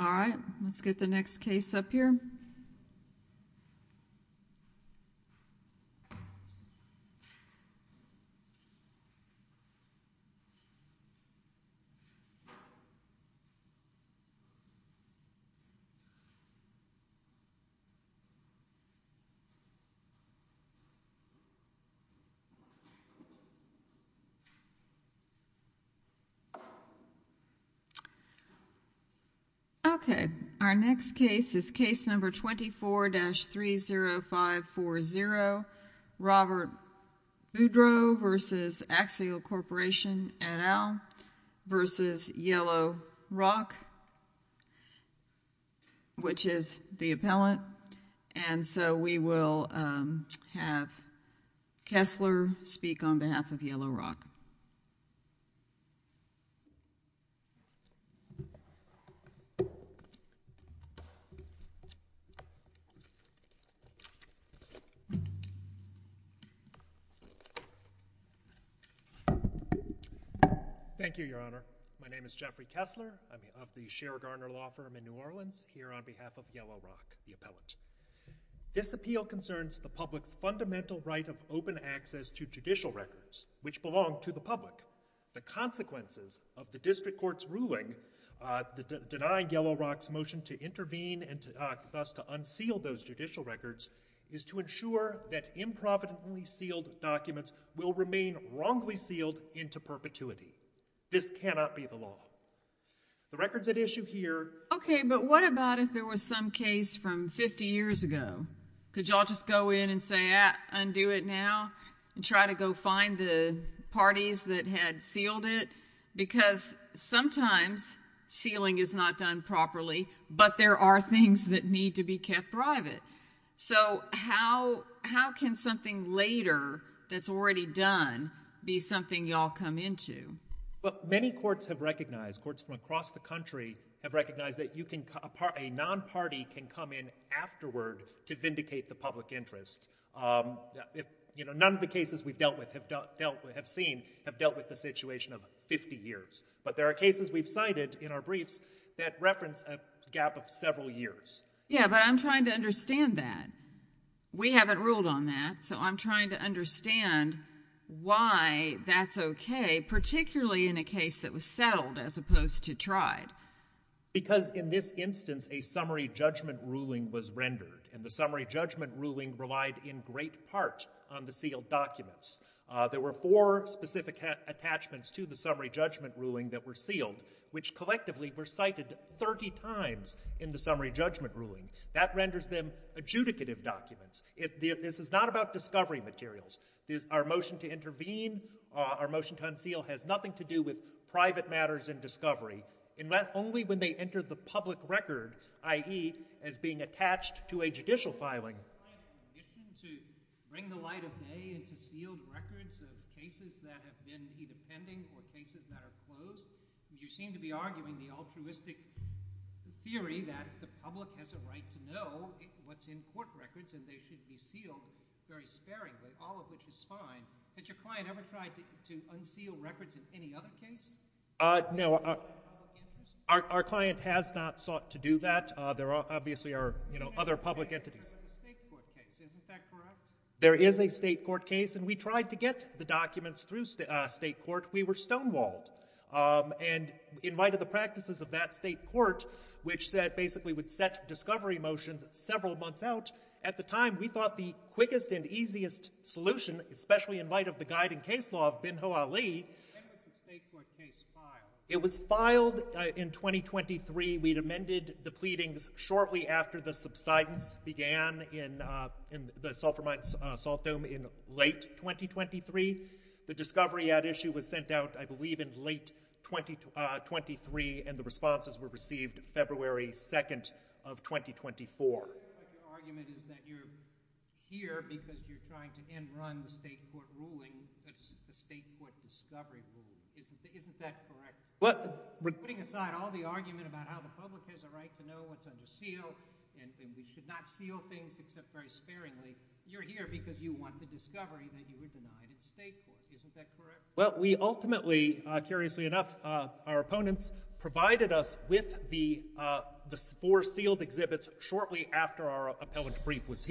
All right, let's get the next case up here. Okay, our next case is case number 24-30540, Robert Boudreau v. Axiall Corporation et al. v. Yellow Rock, which is the appellant, and so we will have Kessler speak on behalf of Yellow Rock. Thank you, Your Honor. My name is Jeffrey Kessler. I'm of the Shera Garner Law Firm in New Orleans, here on behalf of Yellow Rock, the appellant. This appeal concerns the public's fundamental right of open access to judicial records, which belong to the public. The consequences of the district court's ruling denying Yellow Rock's motion to intervene and thus to unseal those judicial records is to ensure that improvidently sealed documents will remain wrongly sealed into perpetuity. This cannot be the law. The records at issue here- Okay, but what about if there was some case from 50 years ago? Could y'all just go in and say, undo it now and try to go find the parties that had sealed it? Because sometimes sealing is not done properly, but there are things that need to be kept private. So how can something later that's already done be something y'all come into? But many courts have recognized, courts from across the country have recognized that a non-party can come in afterward to vindicate the public interest. None of the cases we've dealt with have dealt with the situation of 50 years. But there are cases we've cited in our briefs that reference a gap of several years. Yeah, but I'm trying to understand that. We haven't ruled on that, so I'm trying to understand why that's okay, particularly in a case that was settled as opposed to tried. Because in this instance, a summary judgment ruling was rendered, and the summary judgment ruling relied in great part on the sealed documents. There were four specific attachments to the summary judgment ruling that were sealed, which collectively were cited 30 times in the summary judgment ruling. That renders them adjudicative documents. This is not about discovery materials. Our motion to intervene, our motion to unseal has nothing to do with private matters in discovery, only when they enter the public record, i.e., as being attached to a judicial filing. You seem to be arguing the altruistic theory that the public has a right to know what's in court records, and they should be sealed very sparingly, all of which is fine. Has your client ever tried to unseal records in any other case? No, our client has not sought to do that. There obviously are, you know, other public entities. There is a state court case, isn't that correct? There is a state court case, and we tried to get the documents through state court. We were stonewalled, and in light of the practices of that state court, which basically would set discovery motions several months out, at the time, we thought the quickest and easiest solution, especially in light of the guiding case law of Bin Ho'Ali... When was the state court case filed? It was filed in 2023. We'd amended the pleadings shortly after the subsidence began in the Sulphur Mines Salt Dome in late 2023. The discovery at issue was sent out, I believe, in late 2023, and the responses were received February 2nd of 2024. Your argument is that you're here because you're trying to end-run the state court ruling, the state court discovery ruling, isn't that correct? Putting aside all the argument about how the public has a right to know what's under seal, and we should not seal things except very sparingly, you're here because you want the discovery that you were denied at state court, isn't that correct? Well, we ultimately, curiously enough, our opponents provided us with the four sealed exhibits shortly after our appellate brief was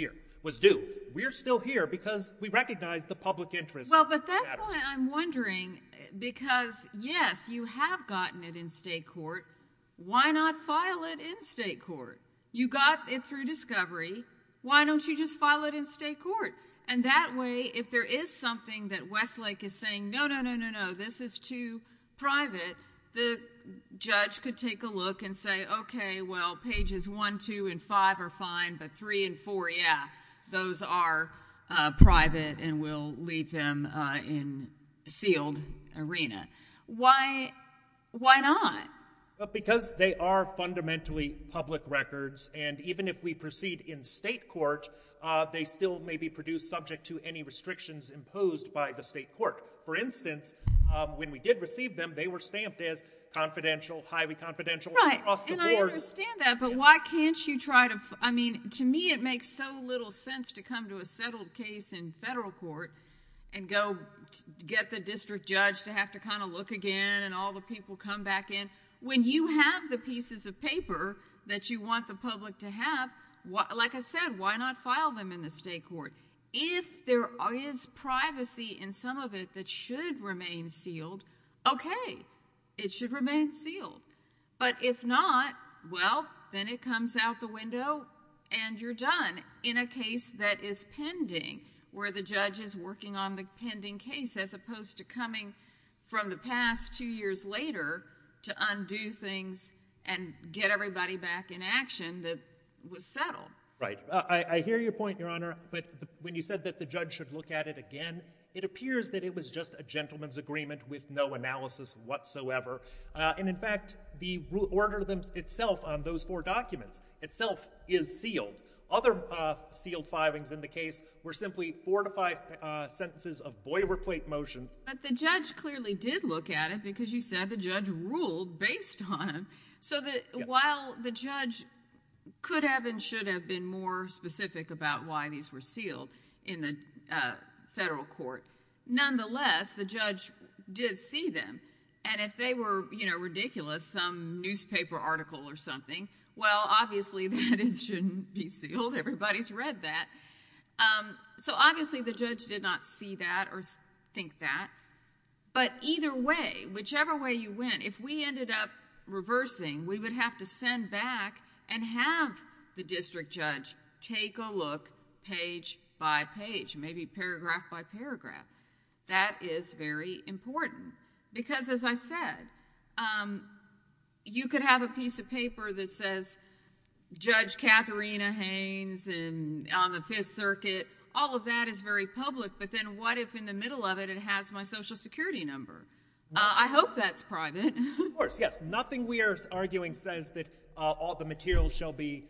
due. We're still here because we recognize the public interest... Well, but that's why I'm wondering, because, yes, you have gotten it in state court. Why not file it in state court? You got it through discovery. Why don't you just file it in state court? And that way, if there is something that Westlake is saying, no, no, no, no, no, this is too private, the judge could take a look and say, okay, well, pages 1, 2, and 5 are fine, but 3 and 4, yeah, those are private, and we'll leave them in sealed arena. Why not? Because they are fundamentally public records, and even if we proceed in state court, they still may be produced subject to any restrictions imposed by the state court. For instance, when we did receive them, they were stamped as confidential, highly confidential. Right, and I understand that, but why can't you try to... I mean, to me, it makes so little sense to come to a settled case in federal court and go get the district judge to have to kind of look again and all the people come back in. When you have the pieces of paper that you want the public to have, like I said, why not file them in the state court? If there is privacy in some of it that should remain sealed, okay, it should remain sealed, but if not, well, then it comes out the window and you're done in a case that is pending where the judge is working on the pending case as opposed to coming from the past two years later to undo things and get everybody back in action that was settled. Right. I hear your point, Your Honor, but when you said that the judge should look at it again, it appears that it was just a gentleman's agreement with no analysis whatsoever. And in fact, the order itself on those four documents itself is sealed. Other sealed filings in the case were simply four to five sentences of boilerplate motion. But the judge clearly did look at it because you said the judge ruled based on it. While the judge could have and should have been more specific about why these were sealed in the federal court, nonetheless, the judge did see them. And if they were ridiculous, some newspaper article or something, well, obviously, that shouldn't be sealed. Everybody's read that. Obviously, the judge did not see that or think that. But either way, whichever way you went, if we ended up reversing, we would have to send back and have the district judge take a look page by page, maybe paragraph by paragraph. That is very important because as I said, you could have a piece of paper that says, Judge Katharina Haynes on the Fifth Circuit, all of that is very public, but then what if in the middle of it, it has my social security number? I hope that's private. Of course, yes. Nothing we are arguing says that all the materials shall be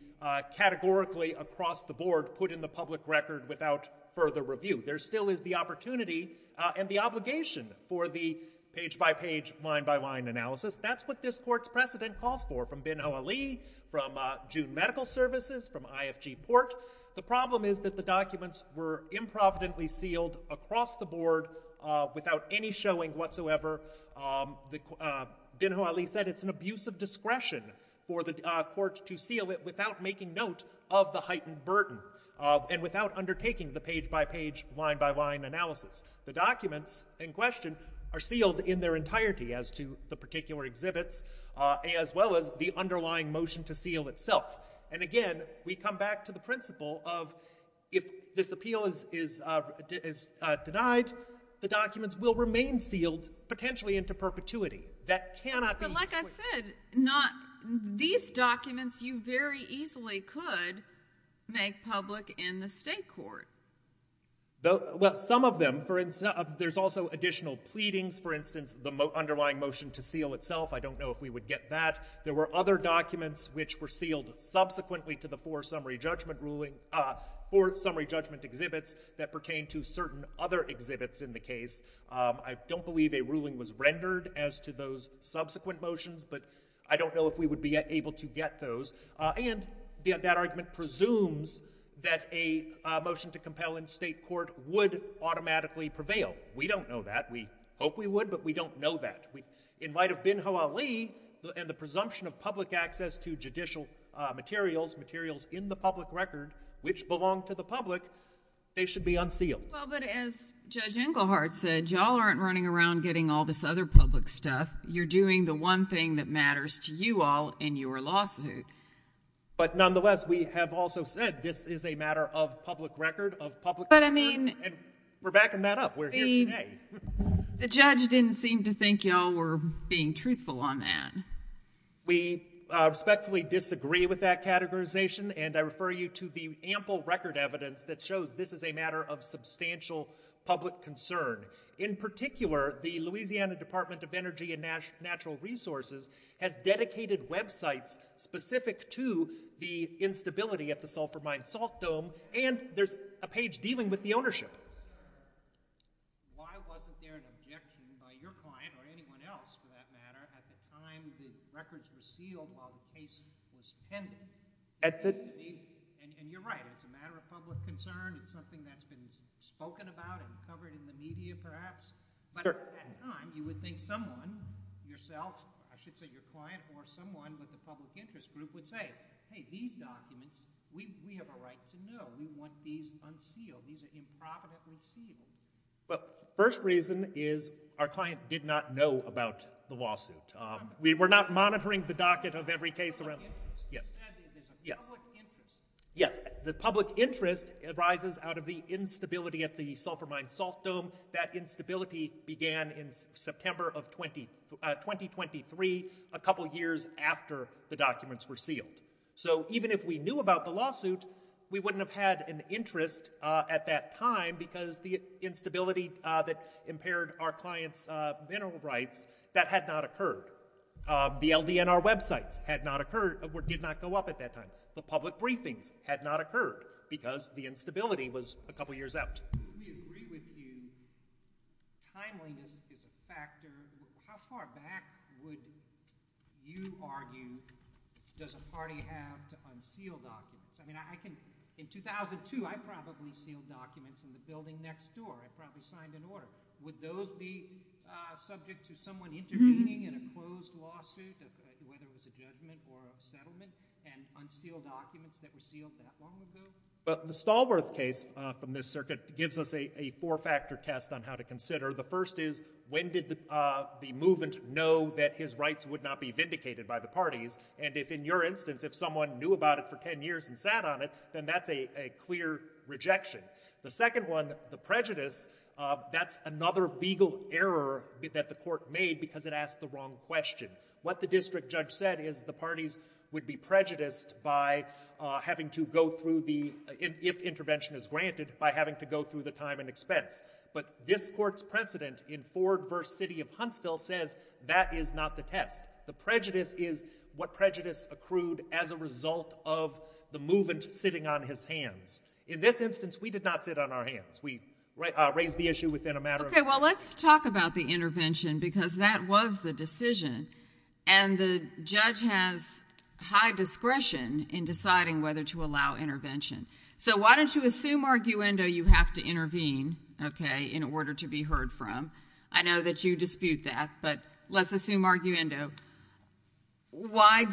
categorically across the board put in the public record without further review. There still is the opportunity and the obligation for the page by page, line by line analysis. That's what this court's precedent calls for, from Bin Hawali, from June Medical Services, from IFG Port. The problem is that the documents were improvidently sealed across the board without any showing whatsoever. Bin Hawali said it's an abuse of discretion for the court to seal it without making note of the heightened burden and without undertaking the page by page, line by line analysis. The documents in question are sealed in their entirety as to the particular exhibits as well as the underlying motion to seal itself. And again, we come back to the principle of if this appeal is denied, the documents will remain sealed potentially into perpetuity. That cannot be— But like I said, these documents you very easily could make public in the state court. Well, some of them. There's also additional pleadings. For instance, the underlying motion to seal itself. I don't know if we would get that. There were other documents which were sealed subsequently to the four summary judgment ruling—four summary judgment exhibits that pertained to certain other exhibits in the case. I don't believe a ruling was rendered as to those subsequent motions, but I don't know if we would be able to get those. And that argument presumes that a motion to compel in state court would automatically prevail. We don't know that. We hope we would, but we don't know that. In light of bin Hawali and the presumption of public access to judicial materials, materials in the public record which belong to the public, they should be unsealed. Well, but as Judge Englehart said, y'all aren't running around getting all this other public stuff. You're doing the one thing that matters to you all in your lawsuit. But nonetheless, we have also said this is a matter of public record, of public record. But I mean— And we're backing that up. We're here today. The judge didn't seem to think y'all were being truthful on that. We respectfully disagree with that categorization, and I refer you to the ample record evidence that shows this is a matter of substantial public concern. In particular, the Louisiana Department of Energy and Natural Resources has dedicated websites specific to the instability at the Sulphur Mine Salt Dome, and there's a page dealing with the ownership. Why wasn't there an objection by your client or anyone else, for that matter, at the time the records were sealed while the case was pending? And you're right. It's a matter of public concern. It's something that's been spoken about and covered in the media, But at the time, you would think someone, yourself, I should say your client or someone with the public interest group, would say, hey, these documents, we have a right to know. We want these unsealed. These are improperly sealed. Well, first reason is our client did not know about the lawsuit. We were not monitoring the docket of every case around. Yes. Yes. Yes. The public interest arises out of the instability at the Sulphur Mine Salt Dome. That instability began in September of 2023, a couple of years after the documents were sealed. So even if we knew about the lawsuit, we wouldn't have had an interest at that time because the instability that impaired our client's mineral rights, that had not occurred. The LDNR websites had not occurred or did not go up at that time. The public briefings had not occurred because the instability was a couple of years out. We agree with you. Timeliness is a factor. How far back would you argue does a party have to unseal documents? In 2002, I probably sealed documents in the building next door. I probably signed an order. Would those be subject to someone intervening in a closed lawsuit, whether it was a judgment or a settlement, and unsealed documents that were sealed that long ago? The Stallworth case from this circuit gives us a four-factor test on how to consider. The first is when did the movement know that his rights would not be vindicated by the parties? And if, in your instance, if someone knew about it for 10 years and sat on it, then that's a clear rejection. The second one, the prejudice, that's another legal error that the court made because it asked the wrong question. What the district judge said is the parties would be prejudiced by having to go through the, if intervention is granted, by having to go through the time and expense. But this court's precedent in Ford v. City of Huntsville says that is not the test. The prejudice is what prejudice accrued as a result of the movement sitting on his hands. In this instance, we did not sit on our hands. We raised the issue within a matter of minutes. Okay, well, let's talk about the intervention because that was the decision, and the judge has high discretion in deciding whether to allow intervention. So why don't you assume arguendo you have to intervene, okay, in order to be heard from? I know that you dispute that, but let's assume arguendo. Why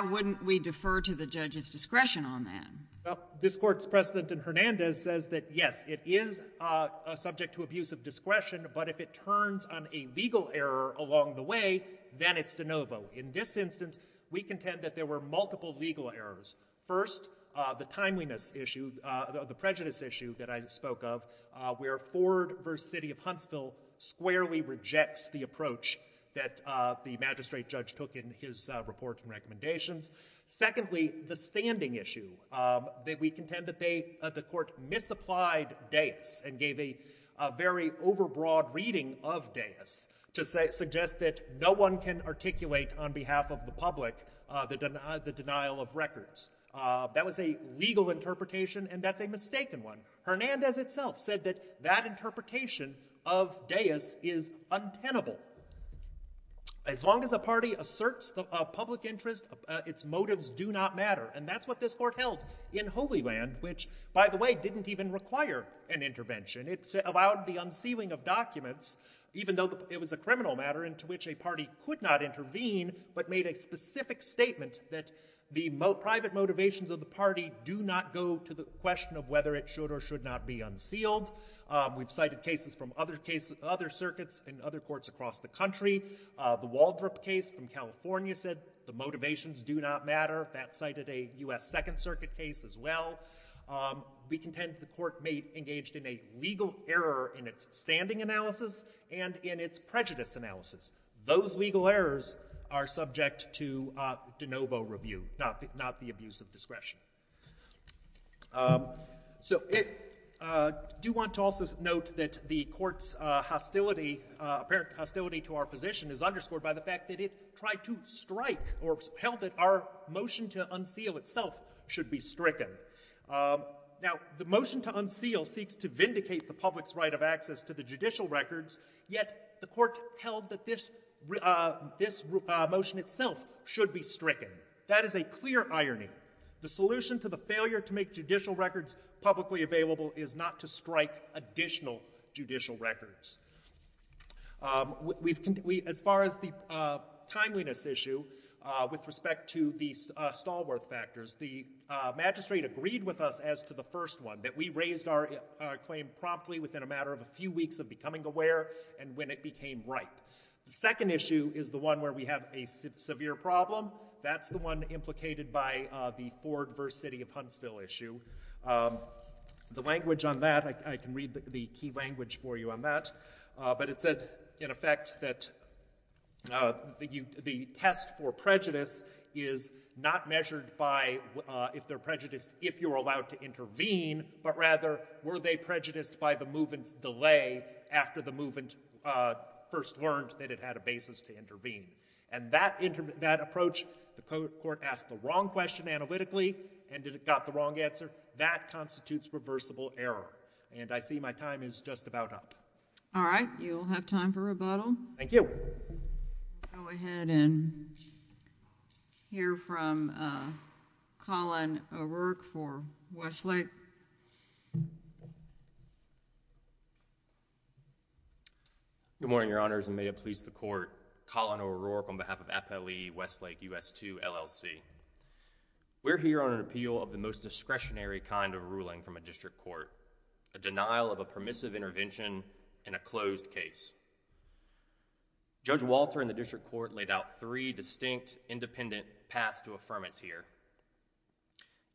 wouldn't we defer to the judge's discretion on that? This court's precedent in Hernandez says that, yes, it is subject to abuse of discretion, but if it turns on a legal error along the way, then it's de novo. In this instance, we contend that there were multiple legal errors. First, the timeliness issue, the prejudice issue that I spoke of, where Ford v. City of Huntsville squarely rejects the approach that the magistrate judge took in his report and recommendations. Secondly, the standing issue that we contend that they, the court misapplied deus and gave a very overbroad reading of deus to suggest that no one can articulate on behalf of the public the denial of records. That was a legal interpretation, and that's a mistaken one. Hernandez itself said that that interpretation of deus is untenable. As long as a party asserts a public interest, its motives do not matter, and that's what this court held in Holy Land, which, by the way, didn't even require an intervention. It allowed the unsealing of documents, even though it was a criminal matter into which a party could not intervene, but made a specific statement that the private motivations of the party do not go to the question of whether it should or should not be unsealed. We've cited cases from other circuits and other courts across the country. The Waldrop case from California said the motivations do not matter. That cited a U.S. Second Circuit case as well. We contend the court may have engaged in a legal error in its standing analysis and in its prejudice analysis. Those legal errors are subject to de novo review, not the abuse of discretion. So I do want to also note that the court's hostility to our position is underscored by the fact that it tried to strike or held that our motion to unseal itself should be stricken. Now, the motion to unseal seeks to vindicate the public's right of access to the judicial records, yet the court held that this motion itself should be stricken. That is a clear irony. The solution to the failure to make judicial records publicly available is not to strike additional judicial records. As far as the timeliness issue with respect to the Stallworth factors, the magistrate agreed with us as to the first one, that we raised our claim promptly within a matter of a few weeks of becoming aware and when it became ripe. The second issue is the one where we have a severe problem. That's the one implicated by the Ford v. City of Huntsville issue. The language on that, I can read the key language for you on that, but it said in effect that the test for prejudice is not measured by if they're prejudiced if you're allowed to intervene, but rather were they prejudiced by the movement's delay after the movement first learned that it had a basis to intervene. And that approach, the court asked the wrong question analytically and it got the wrong answer. That constitutes reversible error. And I see my time is just about up. All right. You'll have time for rebuttal. Thank you. Go ahead and hear from Colin O'Rourke for Westlake. Good morning, Your Honors, and may it please the Court, Colin O'Rourke on behalf of FLE Westlake U.S. 2 LLC. We're here on an appeal of the most discretionary kind of ruling from a district court, a denial of a permissive intervention in a closed case. Judge Walter in the district court laid out three distinct independent paths to affirmance here,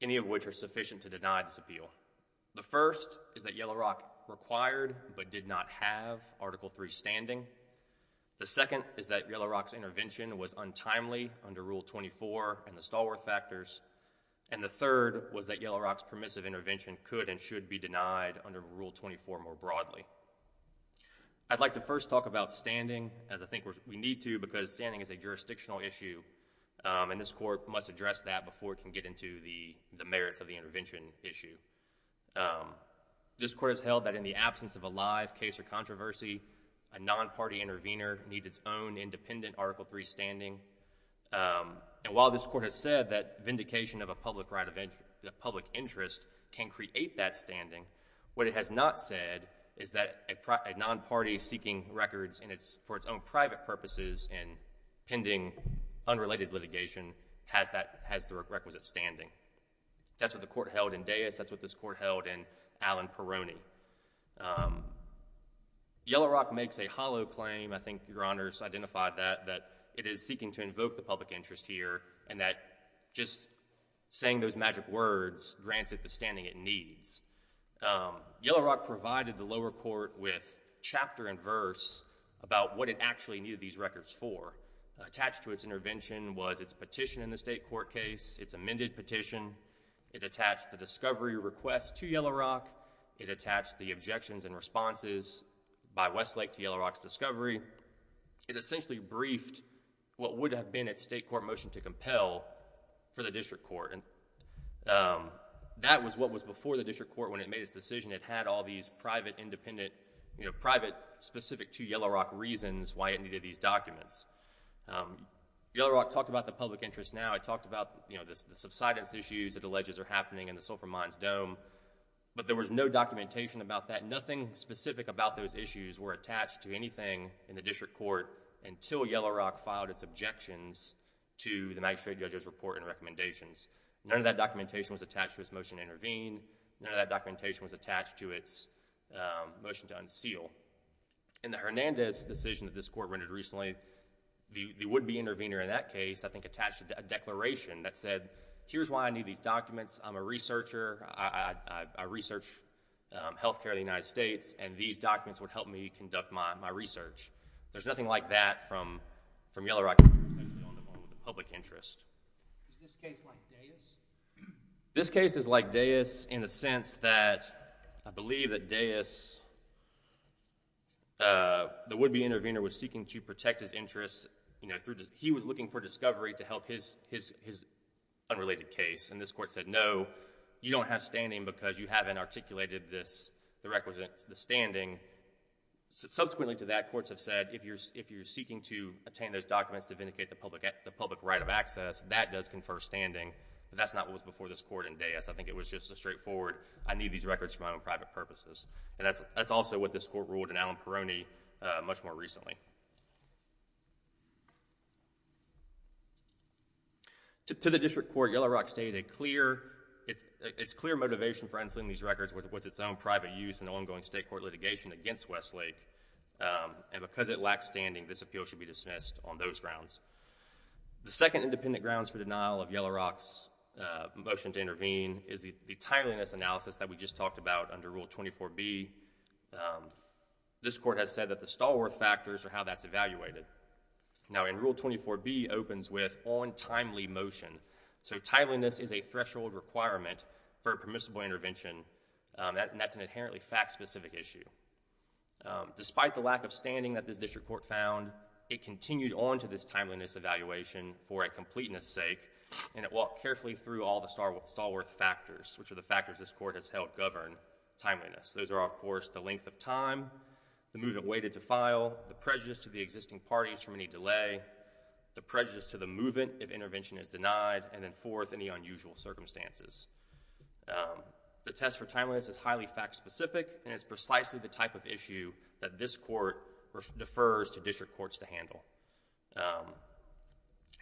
any of which are sufficient to deny this appeal. The first is that Yellow Rock required but did not have Article III standing. The second is that Yellow Rock's intervention was untimely under Rule 24 and the Stallworth factors. And the third was that Yellow Rock's permissive intervention could and should be denied under Rule 24 more broadly. I'd like to first talk about standing, as I think we need to, because standing is a jurisdictional issue, and this Court must address that before it can get into the merits of the intervention issue. This Court has held that in the absence of a live case or controversy, a non-party intervener needs its own independent Article III standing. And while this Court has said that vindication of a public interest can create that standing, what it has not said is that a non-party seeking records for its own private purposes and pending unrelated litigation has the requisite standing. That's what the Court held in Deas. That's what this Court held in Allen-Peroni. Yellow Rock makes a hollow claim, I think Your Honors identified that, that it is seeking to invoke the public interest here and that just saying those magic words grants it the standing it needs. Yellow Rock provided the lower court with chapter and verse about what it actually needed these records for. Attached to its intervention was its petition in the state court case, its amended petition. It attached the discovery request to Yellow Rock. It attached the objections and responses by Westlake to Yellow Rock's discovery. It essentially briefed what would have been its state court motion to compel for the district court. That was what was before the district court when it made its decision. It had all these private, specific to Yellow Rock reasons why it needed these documents. Yellow Rock talked about the public interest now. It talked about the subsidence issues it alleges are happening in the Sulphur Mines Dome. But there was no documentation about that. Nothing specific about those issues were attached to anything in the district court until Yellow Rock filed its objections to the magistrate judge's report and recommendations. None of that documentation was attached to its motion to intervene. None of that documentation was attached to its motion to unseal. In the Hernandez decision that this court rendered recently, the would-be intervener in that case, I think, attached a declaration that said, here's why I need these documents. I'm a researcher. I research health care in the United States, and these documents would help me conduct my research. There's nothing like that from Yellow Rock, especially on the public interest. Is this case like Dayus? This case is like Dayus in the sense that I believe that Dayus, the would-be intervener, was seeking to protect his interests. He was looking for discovery to help his unrelated case, and this court said, no, you don't have standing because you haven't articulated the standing. Subsequently to that, courts have said, if you're seeking to obtain those documents to vindicate the public right of access, that does confer standing. But that's not what was before this court in Dayus. I think it was just a straightforward, I need these records for my own private purposes. That's also what this court ruled in Allen-Peroni much more recently. To the district court, Yellow Rock stated it's clear motivation for ensuing these records was its own private use in the ongoing state court litigation against Westlake, and because it lacks standing, this appeal should be dismissed on those grounds. The second independent grounds for denial of Yellow Rock's motion to intervene is the timeliness analysis that we just talked about under Rule 24B. This court has said that the Stallworth factors are how that's evaluated. Now, in Rule 24B opens with on timely motion. Timeliness is a threshold requirement for permissible intervention, and that's an inherently fact-specific issue. Despite the lack of standing that this district court found, it continued on to this timeliness evaluation for completeness sake, and it walked carefully through all the Stallworth factors, which are the factors this court has held govern timeliness. Those are, of course, the length of time, the movement waited to file, the prejudice to the existing parties from any delay, the prejudice to the movement if intervention is denied, and then fourth, any unusual circumstances. The test for timeliness is highly fact-specific, and it's precisely the type of issue that this court defers to district courts to handle,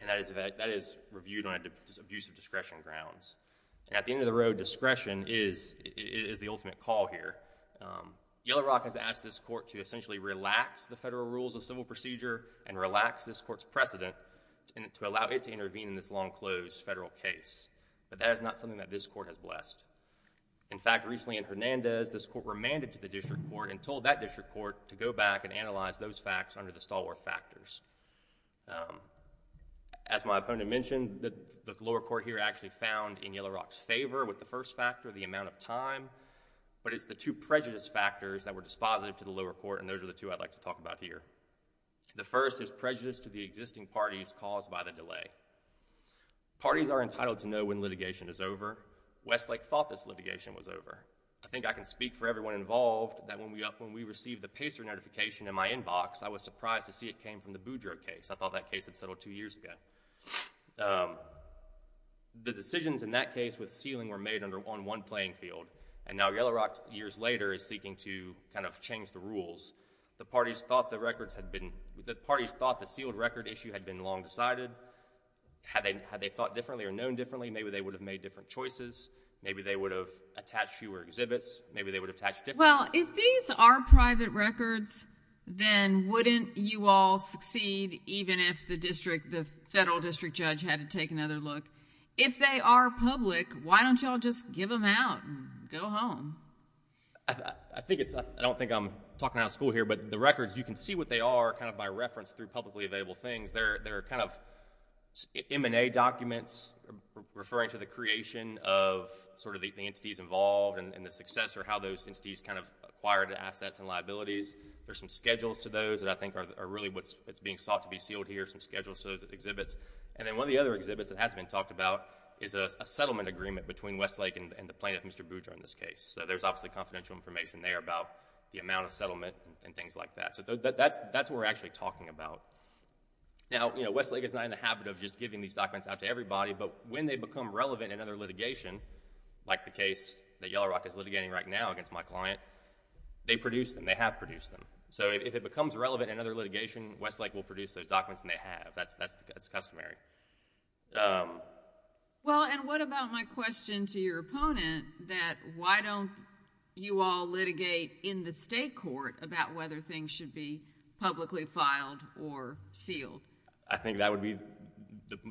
and that is reviewed on abusive discretion grounds. At the end of the road, discretion is the ultimate call here. Yellow Rock has asked this court to essentially relax the federal rules of civil procedure and relax this court's precedent to allow it to intervene in this long closed federal case, but that is not something that this court has blessed. In fact, recently in Hernandez, this court remanded to the district court and told that district court to go back and analyze those facts under the Stallworth factors. As my opponent mentioned, the lower court here actually found in Yellow Rock's favor with the first factor, the amount of time, but it's the two prejudice factors that were dispositive to the lower court, and those are the two I'd like to talk about here. The first is prejudice to the existing parties caused by the delay. Parties are entitled to know when litigation is over. Westlake thought this litigation was over. I think I can speak for everyone involved that when we received the Pacer notification in my inbox, I was surprised to see it came from the Boudreaux case. I thought that case had settled two years ago. The decisions in that case with sealing were made on one playing field, and now Yellow Rock years later is seeking to kind of change the rules. The parties thought the sealed record issue had been long decided. Had they thought differently or known differently, maybe they would have made different choices. Maybe they would have attached fewer exhibits. Maybe they would have attached different... Well, if these are private records, then wouldn't you all succeed even if the federal district judge had to take another look? If they are public, why don't you all just give them out and go home? I don't think I'm talking out of school here, but the records, you can see what they are kind of by reference through publicly available things. They're kind of M&A documents referring to the creation of sort of the entities involved and the success or how those entities kind of acquired the assets and liabilities. There's some schedules to those that I think are really what's being sought to be sealed here, some schedules to those exhibits. And then one of the other exhibits that hasn't been talked about is a settlement agreement between Westlake and the plaintiff, Mr. Boudreau in this case. So there's obviously confidential information there about the amount of settlement and things like that. So that's what we're actually talking about. Now, you know, Westlake is not in the habit of just giving these documents out to everybody, but when they become relevant in other litigation, like the case that Yellow Rock is litigating right now against my client, they produce them, they have produced them. So if it becomes relevant in other litigation, Westlake will produce those documents and they have. That's customary. Well, and what about my question to your opponent that why don't you all litigate in the state court about whether things should be publicly filed or sealed? I think that would be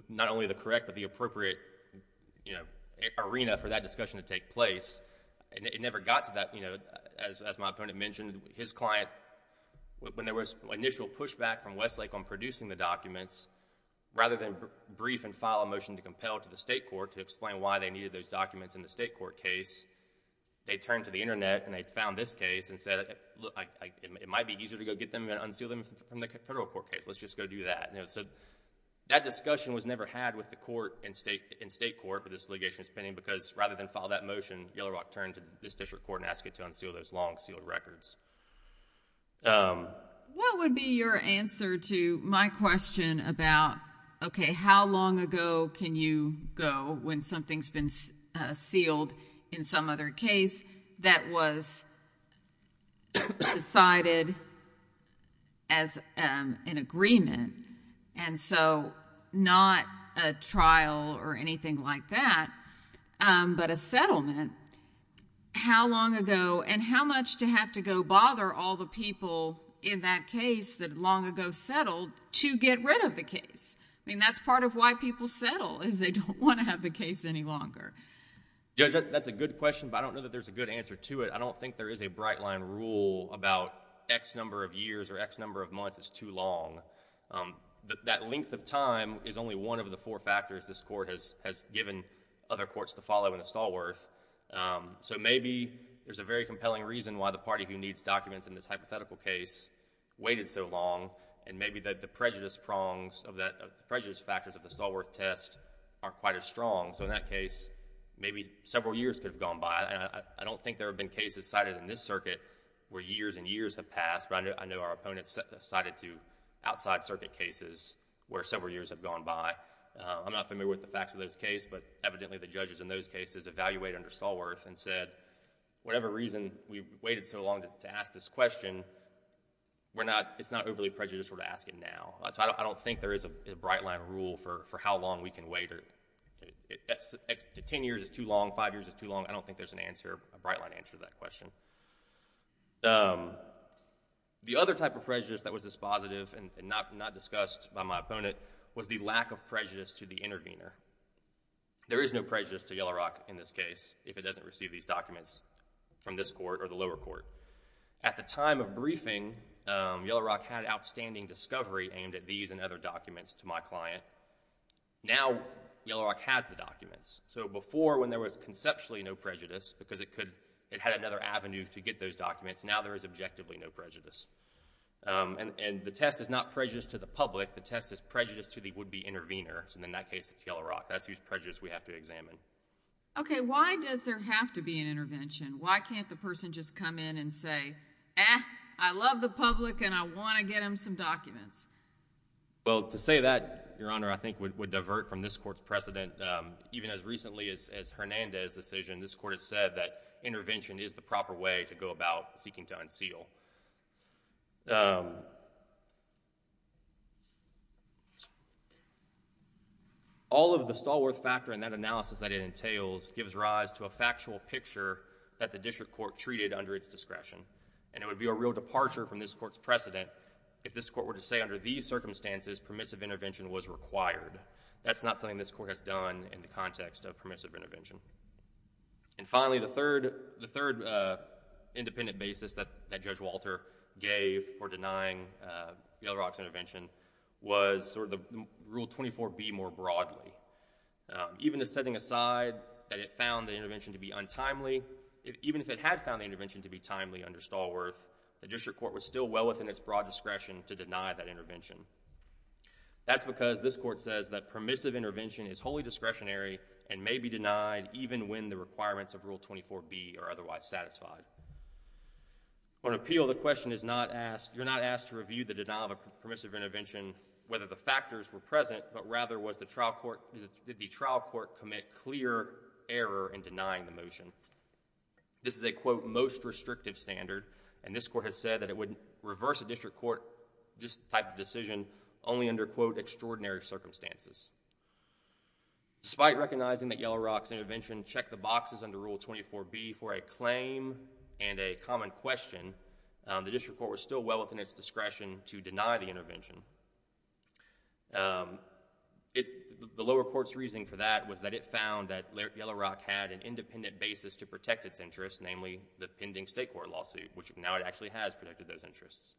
not only the correct but the appropriate, you know, arena for that discussion to take place. It never got to that. You know, as my opponent mentioned, his client, when there was initial pushback from Westlake on producing the documents, rather than brief and file a motion to compel to the state court to explain why they needed those documents in the state court case, they turned to the internet and they found this case and said, it might be easier to go get them and unseal them from the federal court case. Let's just go do that. So that discussion was never had with the court in state court for this litigation because rather than file that motion, Yellow Rock turned to this district court and asked it to unseal those long sealed records. What would be your answer to my question about, okay, how long ago can you go when something's been sealed in some other case that was decided as an agreement and so not a trial or anything like that, but a settlement. How long ago and how much to have to go bother all the people in that case that long ago settled to get rid of the case? I mean, that's part of why people settle is they don't want to have the case any longer. Judge, that's a good question, but I don't know that there's a good answer to it. I don't think there is a bright line rule about X number of years or X number of months is too long. That length of time is only one of the four factors this court has given other courts to follow in the Stallworth. So maybe there's a very compelling reason why the party who needs documents in this hypothetical case waited so long and maybe that the prejudice prongs, prejudice factors of the Stallworth test aren't quite as strong. So in that case, maybe several years could have gone by. I don't think there have been cases cited in this circuit where years and years have passed. I know our opponents cited to outside circuit cases where several years have gone by. I'm not familiar with the facts of those cases, but evidently the judges in those cases evaluate under Stallworth and said, whatever reason we've waited so long to ask this question, it's not overly prejudicial to ask it now. I don't think there is a bright line rule for how long we can wait. Ten years is too long, five years is too long. I don't think there's a bright line answer to that question. The other type of prejudice that was dispositive and not discussed by my opponent was the lack of prejudice to the intervener. There is no prejudice to Yellow Rock in this case if it doesn't receive these documents from this court or the lower court. At the time of briefing, Yellow Rock had outstanding discovery aimed at these and other documents to my client. Now when there was conceptually no prejudice because it had another avenue to get those documents, now there is objectively no prejudice. The test is not prejudice to the public. The test is prejudice to the would-be intervener. In that case, it's Yellow Rock. That's the prejudice we have to examine. Why does there have to be an intervention? Why can't the person just come in and say, I love the public and I want to get them some documents? To say that, Your Honor, I think would divert from this court's precedent. Even as recently as Hernandez' decision, this court has said that intervention is the proper way to go about seeking to unseal. All of the Stallworth factor in that analysis that it entails gives rise to a factual picture that the district court treated under its discretion. It would be a real departure from this court's precedent if this court were to say under these circumstances, permissive intervention was required. That's not something this court has done in the context of permissive intervention. Finally, the third independent basis that Judge Walter gave for denying Yellow Rock's intervention was Rule 24B more broadly. Even as setting aside that it found the intervention to be untimely, even if it had found the intervention to be timely under Stallworth, the district court was still well within its broad discretion to deny that intervention. That's because this court says that permissive intervention is wholly discretionary and may be denied even when the requirements of Rule 24B are otherwise satisfied. For an appeal, you're not asked to review the denial of permissive intervention, whether the factors were present, but rather did the trial court commit clear error in denying the motion. This is a quote, most restrictive standard, and this court has said that it would reverse a district court type of decision only under, quote, extraordinary circumstances. Despite recognizing that Yellow Rock's intervention checked the boxes under Rule 24B for a claim and a common question, the district court was still well within its discretion to deny the The lower court's reasoning for that was that it found that Yellow Rock had an independent basis to protect its interests, namely the pending state court lawsuit, which now it actually has protected those interests.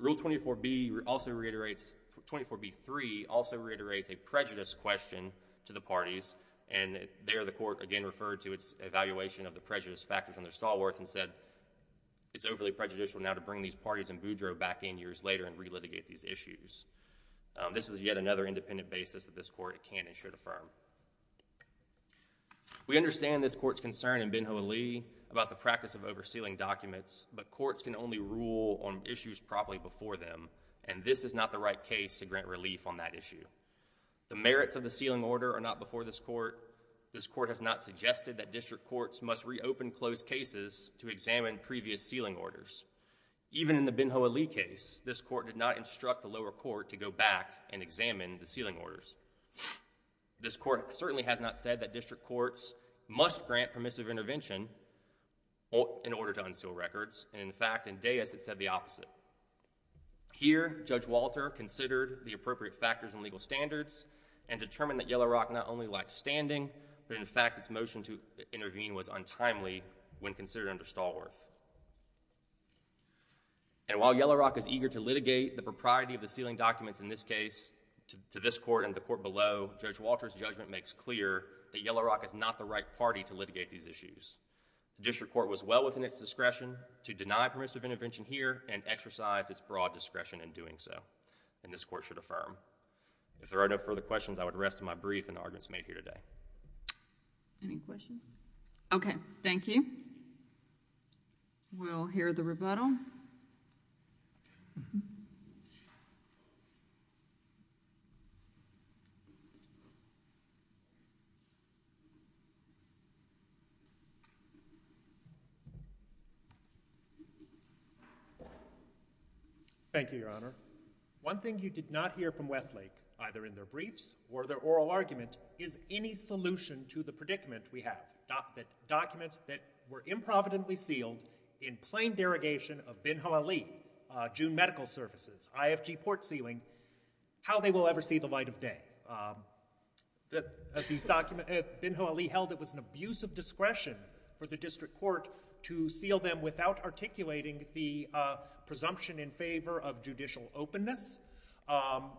Rule 24B also reiterates, 24B3, also reiterates a prejudice question to the parties and there the court again referred to its evaluation of the prejudice factors under Stallworth and said it's overly prejudicial now to bring these parties in Boudreaux back in years later and re-litigate these issues. This is yet another independent basis that this court can and should affirm. We understand this court's concern in Ben Hoa Lee about the practice of oversealing documents, but courts can only rule on issues properly before them and this is not the right case to grant relief on that issue. The merits of the sealing order are not before this court. This court has not suggested that district courts must reopen closed cases to examine previous sealing orders. Even in the Ben Hoa Lee case, this court did not instruct the lower court to go back and examine the sealing orders. This court certainly has not said that district courts must grant permissive intervention in order to unseal records. In fact, in Daeus it said the opposite. Here, Judge Walter considered the appropriate factors and legal standards and determined that Yellow Rock not only lacked standing, but in fact its motion to intervene was untimely when considered under Stallworth. And while Yellow Rock is eager to litigate the propriety of the sealing documents in this case to this court and the court below, Judge Walter's judgment makes clear that Yellow Rock is not the right party to litigate these issues. District court was well within its discretion to deny permissive intervention here and exercise its broad discretion in doing so and this court should affirm. If there are no further questions, I would rest my brief and arguments made here today. Okay, thank you. We'll hear the rebuttal. Thank you, Your Honor. One thing you did not hear from Westlake, either in their briefs or their oral argument, is any solution to the predicament we have. Documents that were improvidently sealed in plain derogation of Ben-Hawali, June Medical Services, IFG port sealing, how they will ever see the light of day. Ben-Hawali held it was an abuse of discretion for the district court to seal them without articulating the presumption in favor of judicial openness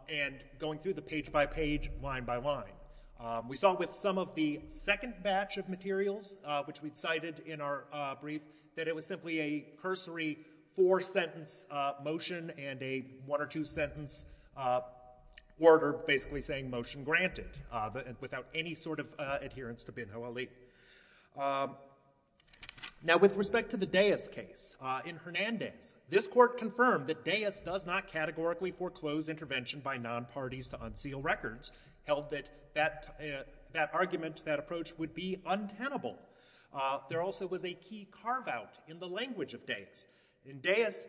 and going through the page by page, line by line. We saw with some of the second batch of materials, which we cited in our brief, that it was simply a cursory four-sentence motion and a one or two-sentence order basically saying motion granted without any sort of adherence to Ben-Hawali. Now, with respect to the Dayas case in Hernandez, this court confirmed that Dayas does not categorically foreclose intervention by non-parties to unseal records, held that that argument, that approach would be untenable. There also was a key carve-out in the language of Dayas. In Dayas,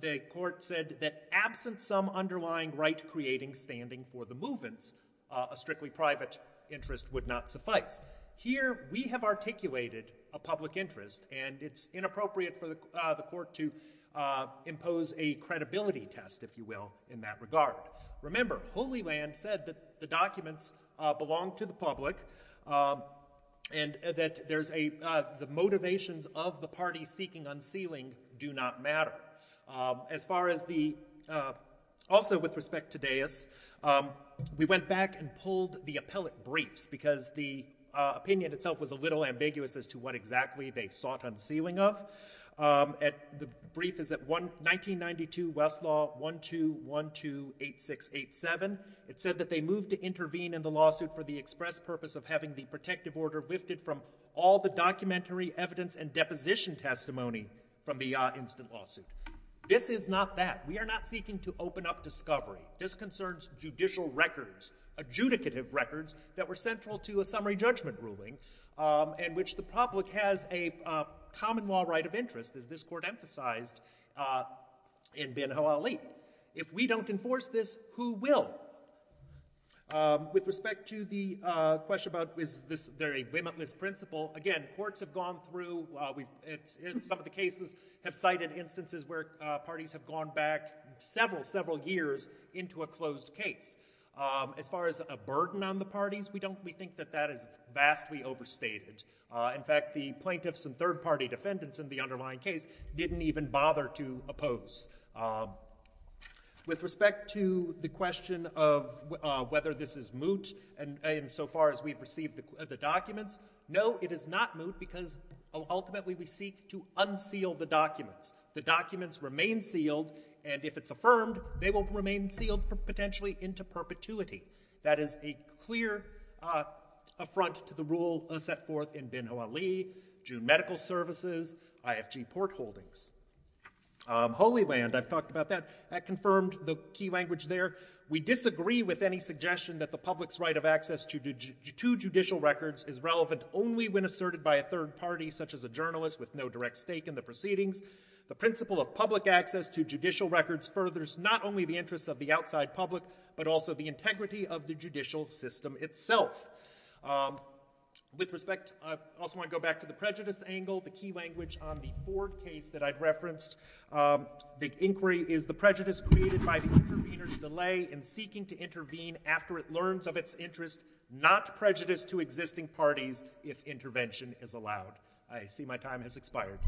the court said that absent some underlying right creating standing for the movements, a strictly private interest would not suffice. Here, we have articulated a public interest and it's inappropriate for the court to impose a credibility test, if you will, in that regard. Remember, Holy Land said that the documents belong to the public and that the motivations of the party seeking unsealing do not matter. As far as the, also with respect to Dayas, we went back and pulled the appellate briefs because the opinion itself was a little ambiguous as to what exactly they sought unsealing of. The brief is 1992 Westlaw 12128687. It said that they moved to intervene in the lawsuit for the express purpose of having the protective order lifted from all the documentary evidence and deposition testimony from the instant lawsuit. This is not that. We are not seeking to open up discovery. This concerns judicial records, adjudicative records that were central to a summary judgment ruling in which the public has a common law right of interest, as this court emphasized in Ben-Hawali. If we don't enforce this, who will? With respect to the question about is this very limitless principle, again, courts have gone through some of the cases have cited instances where parties have gone back several, several years into a closed case. As far as the burden on the parties, we think that that is vastly overstated. In fact, the plaintiffs and third party defendants in the underlying case didn't even bother to oppose. With respect to the question of whether this is moot insofar as we've received the documents, no, it is not moot because ultimately we seek to unseal the documents. The documents remain sealed, and if it's affirmed, they will remain sealed potentially into perpetuity. That is a clear affront to the rule set forth in Ben-Hawali, June Medical Services, IFG Port Holdings. Holy Land, I've talked about that. That confirmed the key language there. We disagree with any suggestion that the public's right of access to judicial records is relevant only when asserted by a third party, such as a journalist with no direct stake in the proceedings. The principle of public access to judicial records furthers not only the interests of the outside public, but also the integrity of the judicial system itself. With respect, I also want to go back to the prejudice angle. The key language on the Ford case that I've referenced, the inquiry is the prejudice created by the intervener's delay in seeking to intervene after it learns of its interest, not prejudice to existing parties if intervention is allowed. I see my time has expired.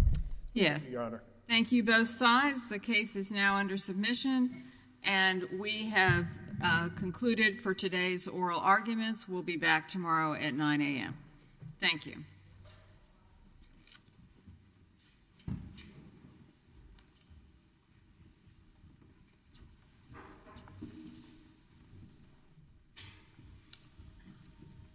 Thank you both sides. The case is now under submission. We have concluded for today's oral arguments. We'll be back tomorrow at 9 a.m. Thank you.